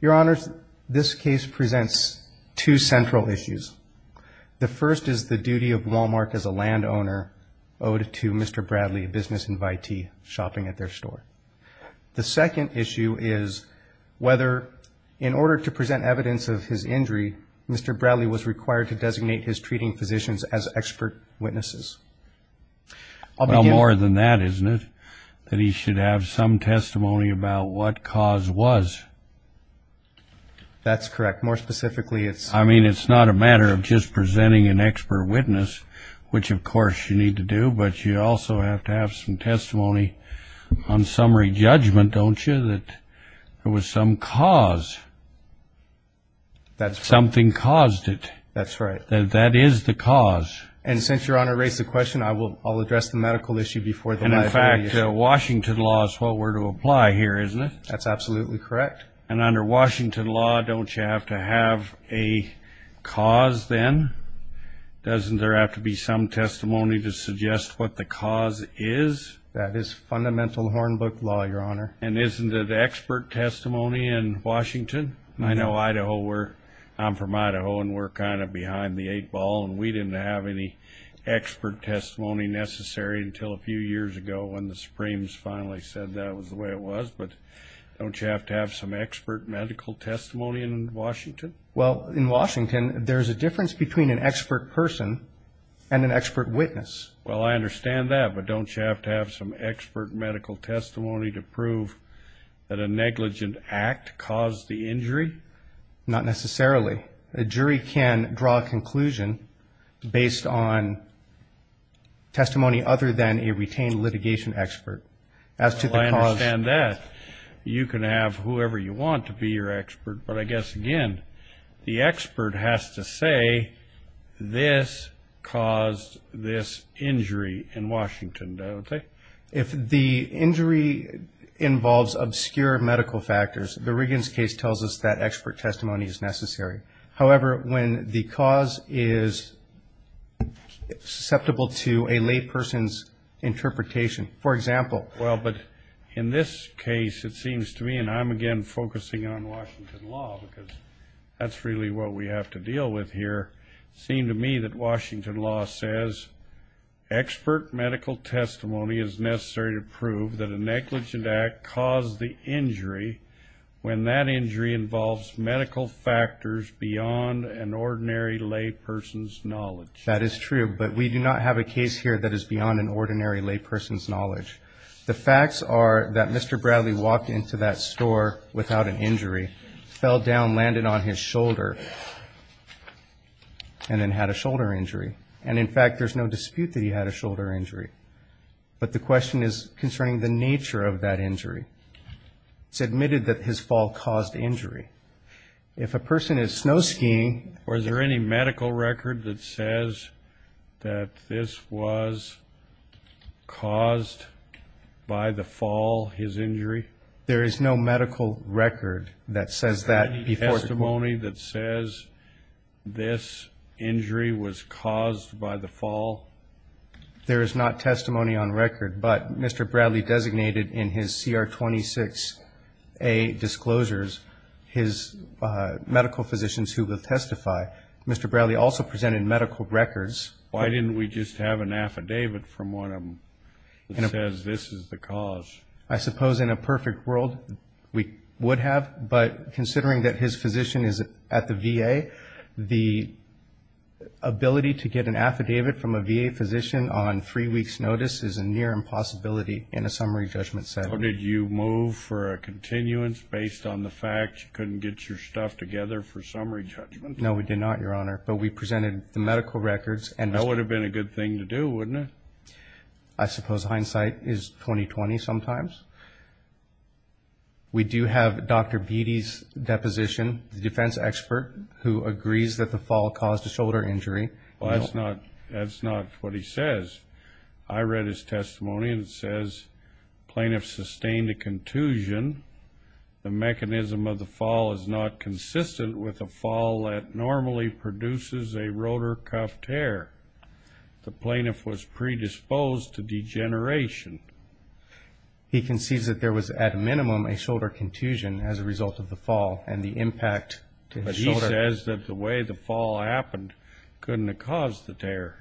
Your Honor, this case presents two central issues. The first is the duty of Wal-Mart as a landowner owed to Mr. Bradley, a business invitee, shopping at their store. The second issue is whether, in order to present evidence of his injury, Mr. Bradley was required to designate his treating physicians as expert witnesses. Well, more than that, isn't it, that he should have some testimony about what cause was? That's correct. More specifically, it's... I mean, it's not a matter of just presenting an expert witness, which, of course, you need to do, but you also have to have some testimony on summary judgment, don't you, that there was some cause. That's right. Something caused it. That's right. That is the cause. And since Your Honor raised the question, I'll address the medical issue before the liability issue. And in fact, Washington law is what we're to apply here, isn't it? That's absolutely correct. And under Washington law, don't you have to have a cause then? Doesn't there have to be some testimony to suggest what the cause is? That is fundamental Hornbook law, Your Honor. And isn't it expert testimony in Washington? I know Idaho, I'm from Idaho, and we're kind of behind the eight ball, and we didn't have any expert testimony necessary until a few years ago when the Supremes finally said that was the way it was. But don't you have to have some expert medical testimony in Washington? Well, in Washington, there's a difference between an expert person and an expert witness. Well, I understand that, but don't you have to have some expert medical testimony to prove that a negligent act caused the injury? Not necessarily. A jury can draw a conclusion based on testimony other than a retained litigation expert as to the cause. Well, I understand that. You can have whoever you want to be your expert. But I guess, again, the expert has to say this caused this injury in Washington. If the injury involves obscure medical factors, the Riggins case tells us that expert testimony is necessary. However, when the cause is susceptible to a layperson's interpretation, for example. Well, but in this case, it seems to me, and I'm, again, focusing on Washington law because that's really what we have to deal with here, it seemed to me that Washington law says expert medical testimony is necessary to prove that a negligent act caused the injury when that injury involves medical factors beyond an ordinary layperson's knowledge. That is true, but we do not have a case here that is beyond an ordinary layperson's knowledge. The facts are that Mr. Bradley walked into that store without an injury, fell down, landed on his shoulder, and then had a shoulder injury. And, in fact, there's no dispute that he had a shoulder injury. But the question is concerning the nature of that injury. It's admitted that his fall caused injury. If a person is snow skiing. Or is there any medical record that says that this was caused by the fall, his injury? There is no medical record that says that before the fall. Is there any testimony that says this injury was caused by the fall? There is not testimony on record. But Mr. Bradley designated in his CR 26A disclosures his medical physicians who would testify. Mr. Bradley also presented medical records. Why didn't we just have an affidavit from one of them that says this is the cause? I suppose in a perfect world we would have. But considering that his physician is at the VA, the ability to get an affidavit from a VA physician on three weeks' notice is a near impossibility in a summary judgment setting. Did you move for a continuance based on the fact you couldn't get your stuff together for summary judgment? No, we did not, Your Honor. But we presented the medical records. That would have been a good thing to do, wouldn't it? I suppose hindsight is 20-20 sometimes. We do have Dr. Beatty's deposition, the defense expert, who agrees that the fall caused a shoulder injury. Well, that's not what he says. I read his testimony, and it says plaintiff sustained a contusion. The mechanism of the fall is not consistent with a fall that normally produces a rotor cuff tear. The plaintiff was predisposed to degeneration. He concedes that there was at minimum a shoulder contusion as a result of the fall and the impact to his shoulder. But he says that the way the fall happened couldn't have caused the tear.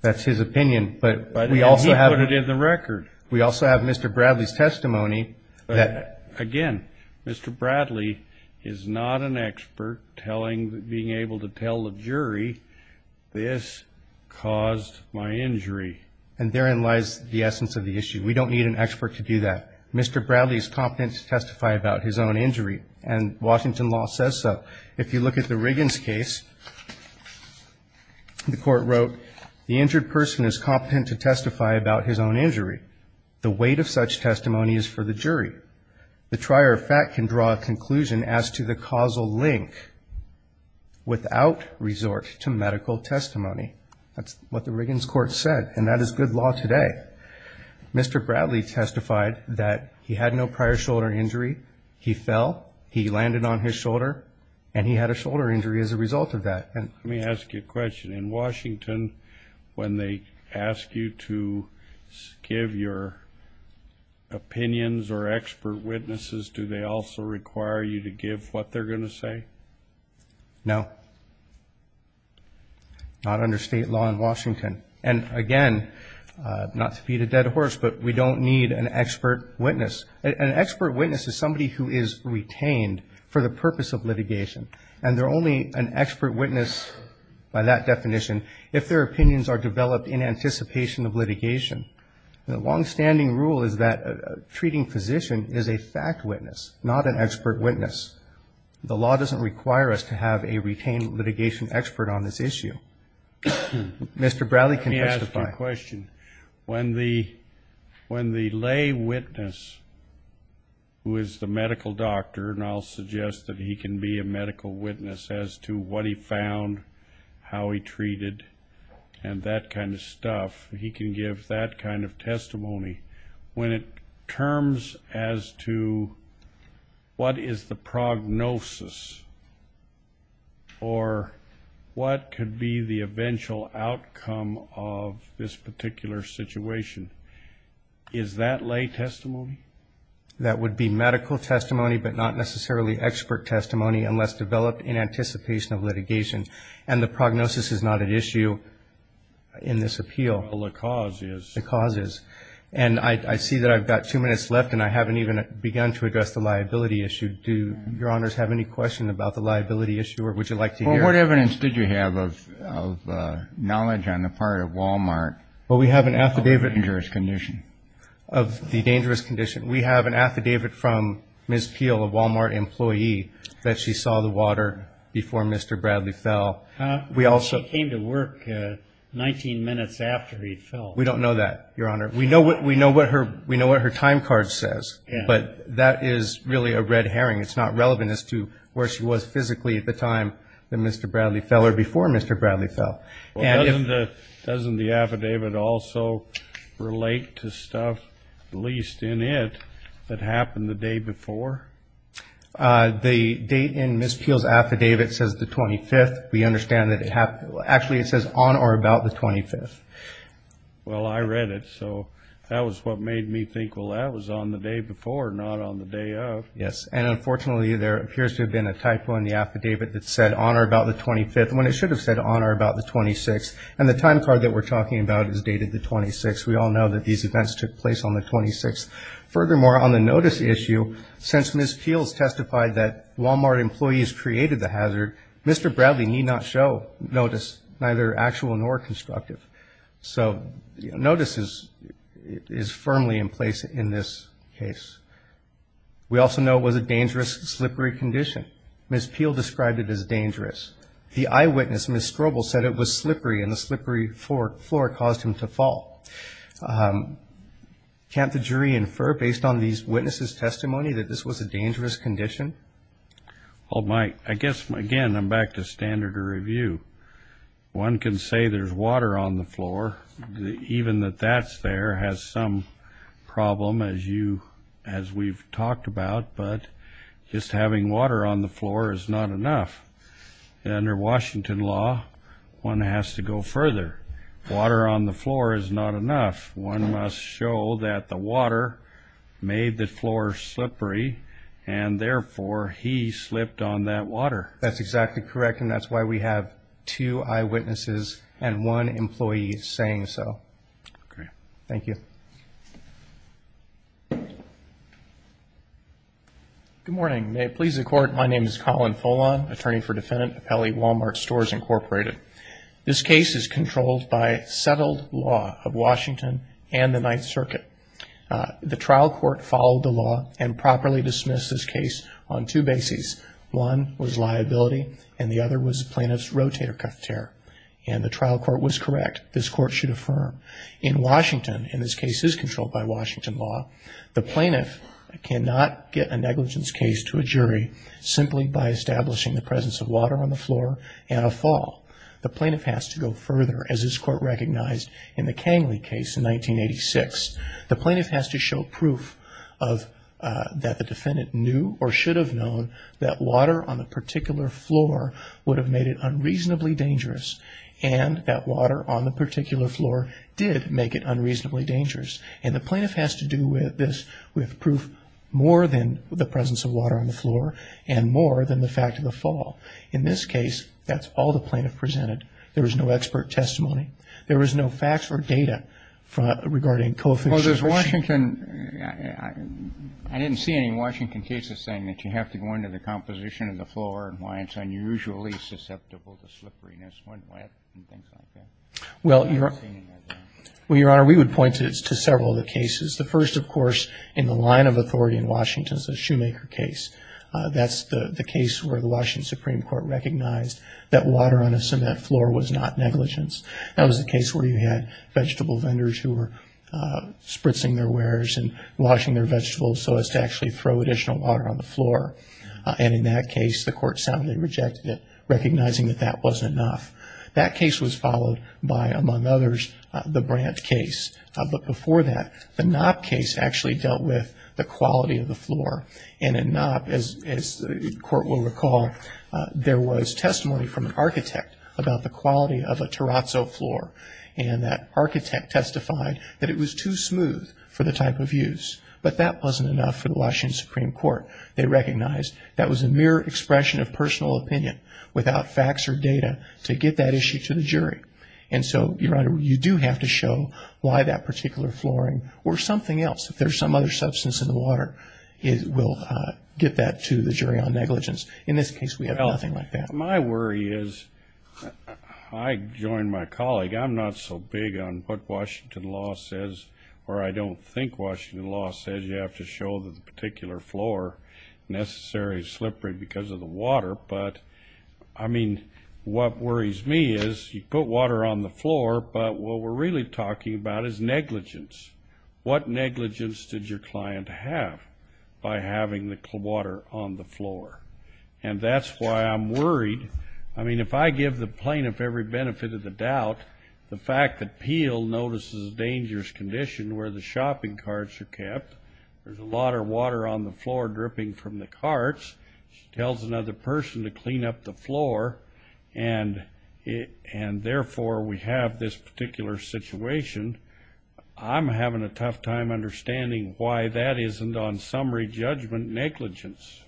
That's his opinion. But he put it in the record. We also have Mr. Bradley's testimony. Again, Mr. Bradley is not an expert being able to tell the jury this caused my injury. And therein lies the essence of the issue. We don't need an expert to do that. Mr. Bradley is competent to testify about his own injury, and Washington law says so. If you look at the Riggins case, the court wrote, the injured person is competent to testify about his own injury. The weight of such testimony is for the jury. The trier of fact can draw a conclusion as to the causal link without resort to medical testimony. That's what the Riggins court said, and that is good law today. Mr. Bradley testified that he had no prior shoulder injury. He fell, he landed on his shoulder, and he had a shoulder injury as a result of that. Let me ask you a question. In Washington, when they ask you to give your opinions or expert witnesses, do they also require you to give what they're going to say? No. Not under state law in Washington. And, again, not to feed a dead horse, but we don't need an expert witness. An expert witness is somebody who is retained for the purpose of litigation, and they're only an expert witness by that definition if their opinions are developed in anticipation of litigation. The longstanding rule is that a treating physician is a fact witness, not an expert witness. The law doesn't require us to have a retained litigation expert on this issue. Mr. Bradley can testify. Let me ask you a question. When the lay witness, who is the medical doctor, and I'll suggest that he can be a medical witness as to what he found, how he treated, and that kind of stuff, he can give that kind of testimony, when it terms as to what is the prognosis or what could be the eventual outcome of this particular situation, is that lay testimony? That would be medical testimony, but not necessarily expert testimony, unless developed in anticipation of litigation. And the prognosis is not at issue in this appeal. Well, the cause is. The cause is. And I see that I've got two minutes left, and I haven't even begun to address the liability issue. Do Your Honors have any question about the liability issue, or would you like to hear it? Well, what evidence did you have of knowledge on the part of Walmart of the dangerous condition? Well, we have an affidavit of the dangerous condition. We have an affidavit from Ms. Peel, a Walmart employee, that she saw the water before Mr. Bradley fell. She came to work 19 minutes after he fell. We don't know that, Your Honor. We know what her time card says, but that is really a red herring. It's not relevant as to where she was physically at the time that Mr. Bradley fell or before Mr. Bradley fell. Well, doesn't the affidavit also relate to stuff, at least in it, that happened the day before? The date in Ms. Peel's affidavit says the 25th. We understand that it happened. Actually, it says on or about the 25th. Well, I read it, so that was what made me think, well, that was on the day before, not on the day of. Yes. And unfortunately, there appears to have been a typo in the affidavit that said on or about the 25th, when it should have said on or about the 26th. And the time card that we're talking about is dated the 26th. We all know that these events took place on the 26th. Furthermore, on the notice issue, since Ms. Peel has testified that Walmart employees created the hazard, Mr. Bradley need not show notice, neither actual nor constructive. So notice is firmly in place in this case. We also know it was a dangerous, slippery condition. Ms. Peel described it as dangerous. The eyewitness, Ms. Strobel, said it was slippery, and the slippery floor caused him to fall. Can't the jury infer, based on these witnesses' testimony, that this was a dangerous condition? Well, Mike, I guess, again, I'm back to standard of review. One can say there's water on the floor. Even that that's there has some problem, as we've talked about, but just having water on the floor is not enough. Under Washington law, one has to go further. Water on the floor is not enough. One must show that the water made the floor slippery, and therefore he slipped on that water. That's exactly correct, and that's why we have two eyewitnesses and one employee saying so. Okay. Thank you. Good morning. May it please the Court, my name is Colin Folon, attorney for defendant Pepele, Walmart Stores Incorporated. This case is controlled by settled law of Washington and the Ninth Circuit. The trial court followed the law and properly dismissed this case on two bases. One was liability, and the other was the plaintiff's rotator cuff tear, and the trial court was correct. This court should affirm. In Washington, and this case is controlled by Washington law, the plaintiff cannot get a negligence case to a jury simply by establishing the presence of water on the floor and a fall. The plaintiff has to go further, as this court recognized in the Kangli case in 1986. The plaintiff has to show proof that the defendant knew or should have known that water on a particular floor would have made it unreasonably dangerous, and that water on the particular floor did make it unreasonably dangerous. And the plaintiff has to do this with proof more than the presence of water on the floor and more than the fact of the fall. In this case, that's all the plaintiff presented. There was no expert testimony. There was no facts or data regarding coefficient. Roberts. Well, there's Washington. I didn't see any Washington cases saying that you have to go into the composition of the floor and why it's unusually susceptible to slipperiness when wet and things like that. I haven't seen any of that. Well, Your Honor, we would point to several of the cases. The first, of course, in the line of authority in Washington is the Shoemaker case. That's the case where the Washington Supreme Court recognized that water on a cement floor was not negligence. That was the case where you had vegetable vendors who were spritzing their wares and washing their vegetables so as to actually throw additional water on the floor. And in that case, the Court soundly rejected it, recognizing that that wasn't enough. That case was followed by, among others, the Brandt case. But before that, the Knopp case actually dealt with the quality of the floor. And in Knopp, as the Court will recall, there was testimony from an architect about the quality of a terrazzo floor, and that architect testified that it was too smooth for the type of use. But that wasn't enough for the Washington Supreme Court. They recognized that was a mere expression of personal opinion without facts or data to get that issue to the jury. And so, Your Honor, you do have to show why that particular flooring or something else, if there's some other substance in the water, will get that to the jury on negligence. In this case, we have nothing like that. My worry is, I join my colleague, I'm not so big on what Washington law says, or I don't think Washington law says you have to show that the particular floor necessarily is slippery because of the water. But, I mean, what worries me is you put water on the floor, but what we're really talking about is negligence. What negligence did your client have by having the water on the floor? And that's why I'm worried. I mean, if I give the plaintiff every benefit of the doubt, the fact that Peel notices a dangerous condition where the shopping carts are kept, there's a lot of water on the floor dripping from the carts, she tells another person to clean up the floor, and therefore, we have this particular situation. I'm having a tough time understanding why that isn't, on summary judgment, negligence.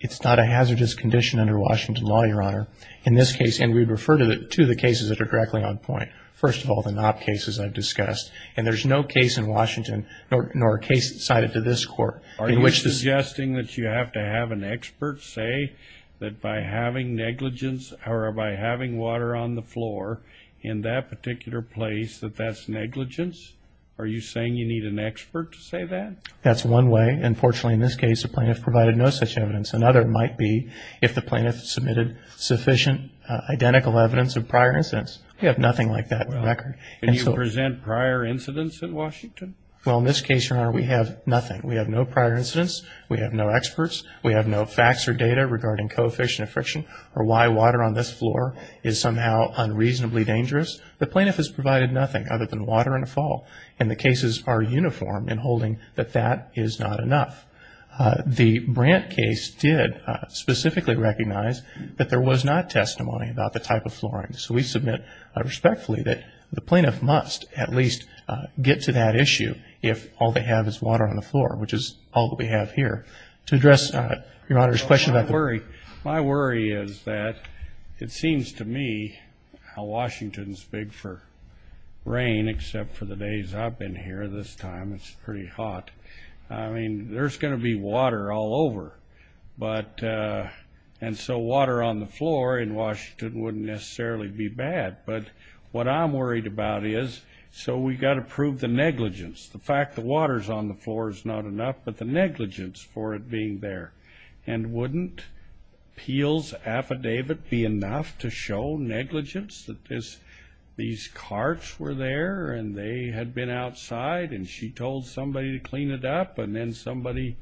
It's not a hazardous condition under Washington law, Your Honor. In this case, and we refer to the cases that are directly on point. First of all, the Knopp cases I've discussed. And there's no case in Washington, nor a case cited to this court, in which this... Are you suggesting that you have to have an expert say that by having negligence or by having water on the floor in that particular place that that's negligence? Are you saying you need an expert to say that? That's one way. Unfortunately, in this case, the plaintiff provided no such evidence. Another might be if the plaintiff submitted sufficient identical evidence of prior incidents. We have nothing like that in the record. Can you present prior incidents in Washington? Well, in this case, Your Honor, we have nothing. We have no prior incidents. We have no experts. We have no facts or data regarding coefficient of friction or why water on this floor is somehow unreasonably dangerous. The plaintiff has provided nothing other than water and a fall. And the cases are uniform in holding that that is not enough. The Brandt case did specifically recognize that there was not testimony about the type of flooring. So we submit respectfully that the plaintiff must at least get to that issue if all they have is water on the floor, which is all that we have here. To address Your Honor's question about the ---- My worry is that it seems to me how Washington is big for rain, except for the days I've been here. This time it's pretty hot. I mean, there's going to be water all over. And so water on the floor in Washington wouldn't necessarily be bad. But what I'm worried about is, so we've got to prove the negligence. The fact that water is on the floor is not enough, but the negligence for it being there. And wouldn't Peel's affidavit be enough to show negligence, that these carts were there and they had been outside and she told somebody to clean it up and then somebody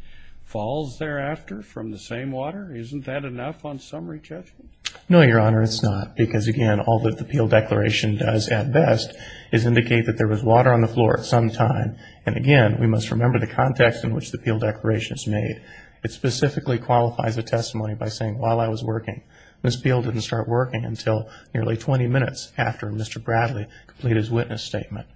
falls thereafter from the same water? Isn't that enough on summary judgment? No, Your Honor, it's not. Because, again, all that the Peel Declaration does at best is indicate that there was water on the floor at some time. And, again, we must remember the context in which the Peel Declaration is made. It specifically qualifies a testimony by saying, while I was working, Ms. Peel didn't start working until nearly 20 minutes after Mr. Bradley completed his witness statement.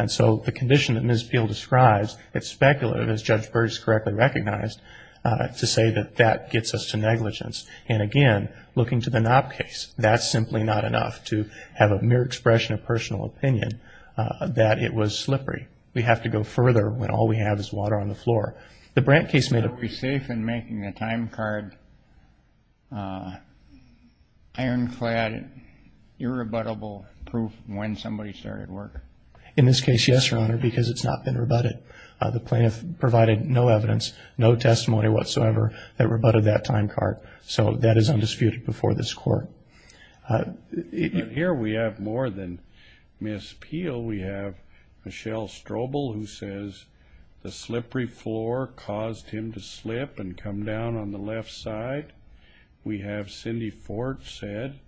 And so the condition that Ms. Peel describes, it's speculative, as Judge Burgess correctly recognized, to say that that gets us to negligence. And, again, looking to the Knopp case, that's simply not enough to have a mere expression of personal opinion that it was slippery. We have to go further when all we have is water on the floor. The Brandt case made a- Are we safe in making a time card ironclad, irrebuttable proof when somebody started work? In this case, yes, Your Honor, because it's not been rebutted. The plaintiff provided no evidence, no testimony whatsoever that rebutted that time card. So that is undisputed before this Court. Here we have more than Ms. Peel. We have Michelle Strobel who says the slippery floor caused him to slip and come down on the left side. We have Cindy Ford said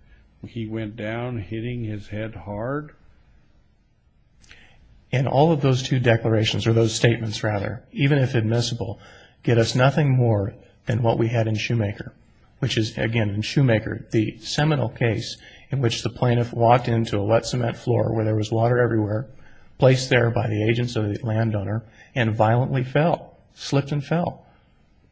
he went down hitting his head hard. And all of those two declarations, or those statements rather, even if admissible, get us nothing more than what we had in Shoemaker, which is, again, in Shoemaker, the seminal case in which the plaintiff walked into a wet cement floor where there was water everywhere, placed there by the agents or the landowner, and violently fell, slipped and fell.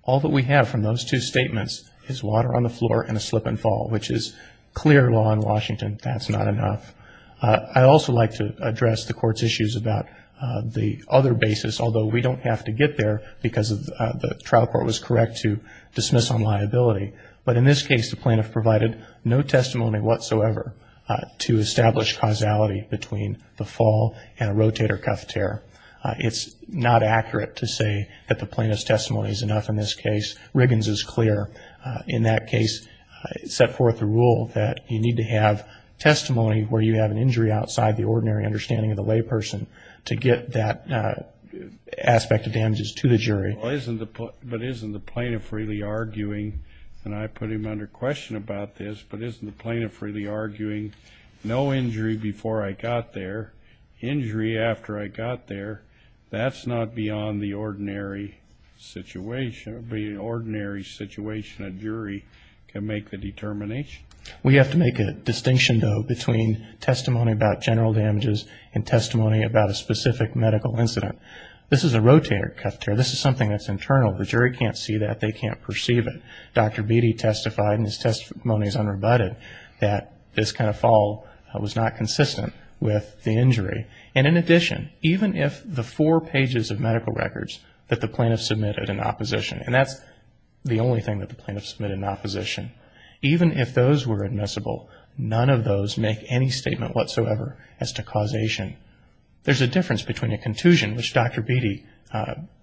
All that we have from those two statements is water on the floor and a slip and fall, which is clear law in Washington. That's not enough. I'd also like to address the Court's issues about the other basis, although we don't have to get there because the trial court was correct to dismiss on liability. But in this case, the plaintiff provided no testimony whatsoever to establish causality between the fall and a rotator cuff tear. It's not accurate to say that the plaintiff's testimony is enough in this case. Riggins is clear in that case, set forth a rule that you need to have testimony where you have an injury outside the ordinary understanding of the layperson to get that aspect of damages to the jury. But isn't the plaintiff really arguing, and I put him under question about this, but isn't the plaintiff really arguing no injury before I got there, injury after I got there? That's not beyond the ordinary situation. It would be an ordinary situation a jury can make the determination. We have to make a distinction, though, between testimony about general damages and testimony about a specific medical incident. This is a rotator cuff tear. This is something that's internal. The jury can't see that. They can't perceive it. Dr. Beatty testified, and his testimony is unrebutted, that this kind of fall was not consistent with the injury. And in addition, even if the four pages of medical records that the plaintiff submitted in opposition, and that's the only thing that the plaintiff submitted in opposition, even if those were admissible, none of those make any statement whatsoever as to causation. There's a difference between a contusion, which Dr. Beatty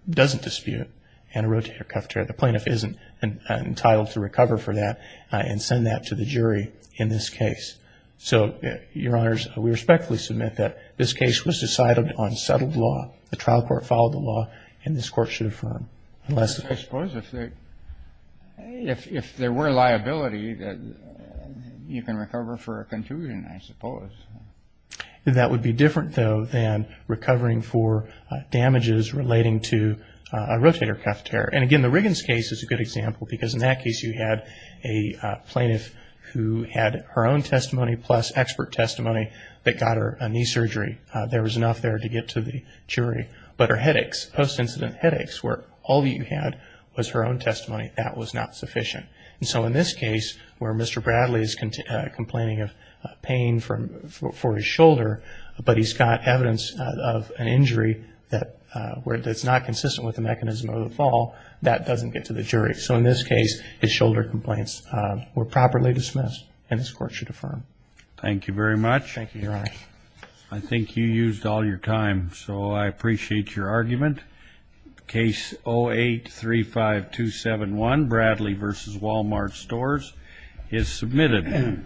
doesn't dispute, and a rotator cuff tear. The plaintiff isn't entitled to recover for that and send that to the jury in this case. So, Your Honors, we respectfully submit that this case was decided on settled law. The trial court followed the law, and this Court should affirm. I suppose if there were liability, you can recover for a contusion, I suppose. That would be different, though, than recovering for damages relating to a rotator cuff tear. And again, the Riggins case is a good example, because in that case you had a plaintiff who had her own testimony plus expert testimony that got her a knee surgery. But her headaches, post-incident headaches, where all that you had was her own testimony, that was not sufficient. And so in this case, where Mr. Bradley is complaining of pain for his shoulder, but he's got evidence of an injury that's not consistent with the mechanism of the fall, that doesn't get to the jury. So in this case, his shoulder complaints were properly dismissed, and this Court should affirm. Thank you, Your Honor. I think you used all your time, so I appreciate your argument. Case 08-35271, Bradley v. Walmart Stores, is submitted.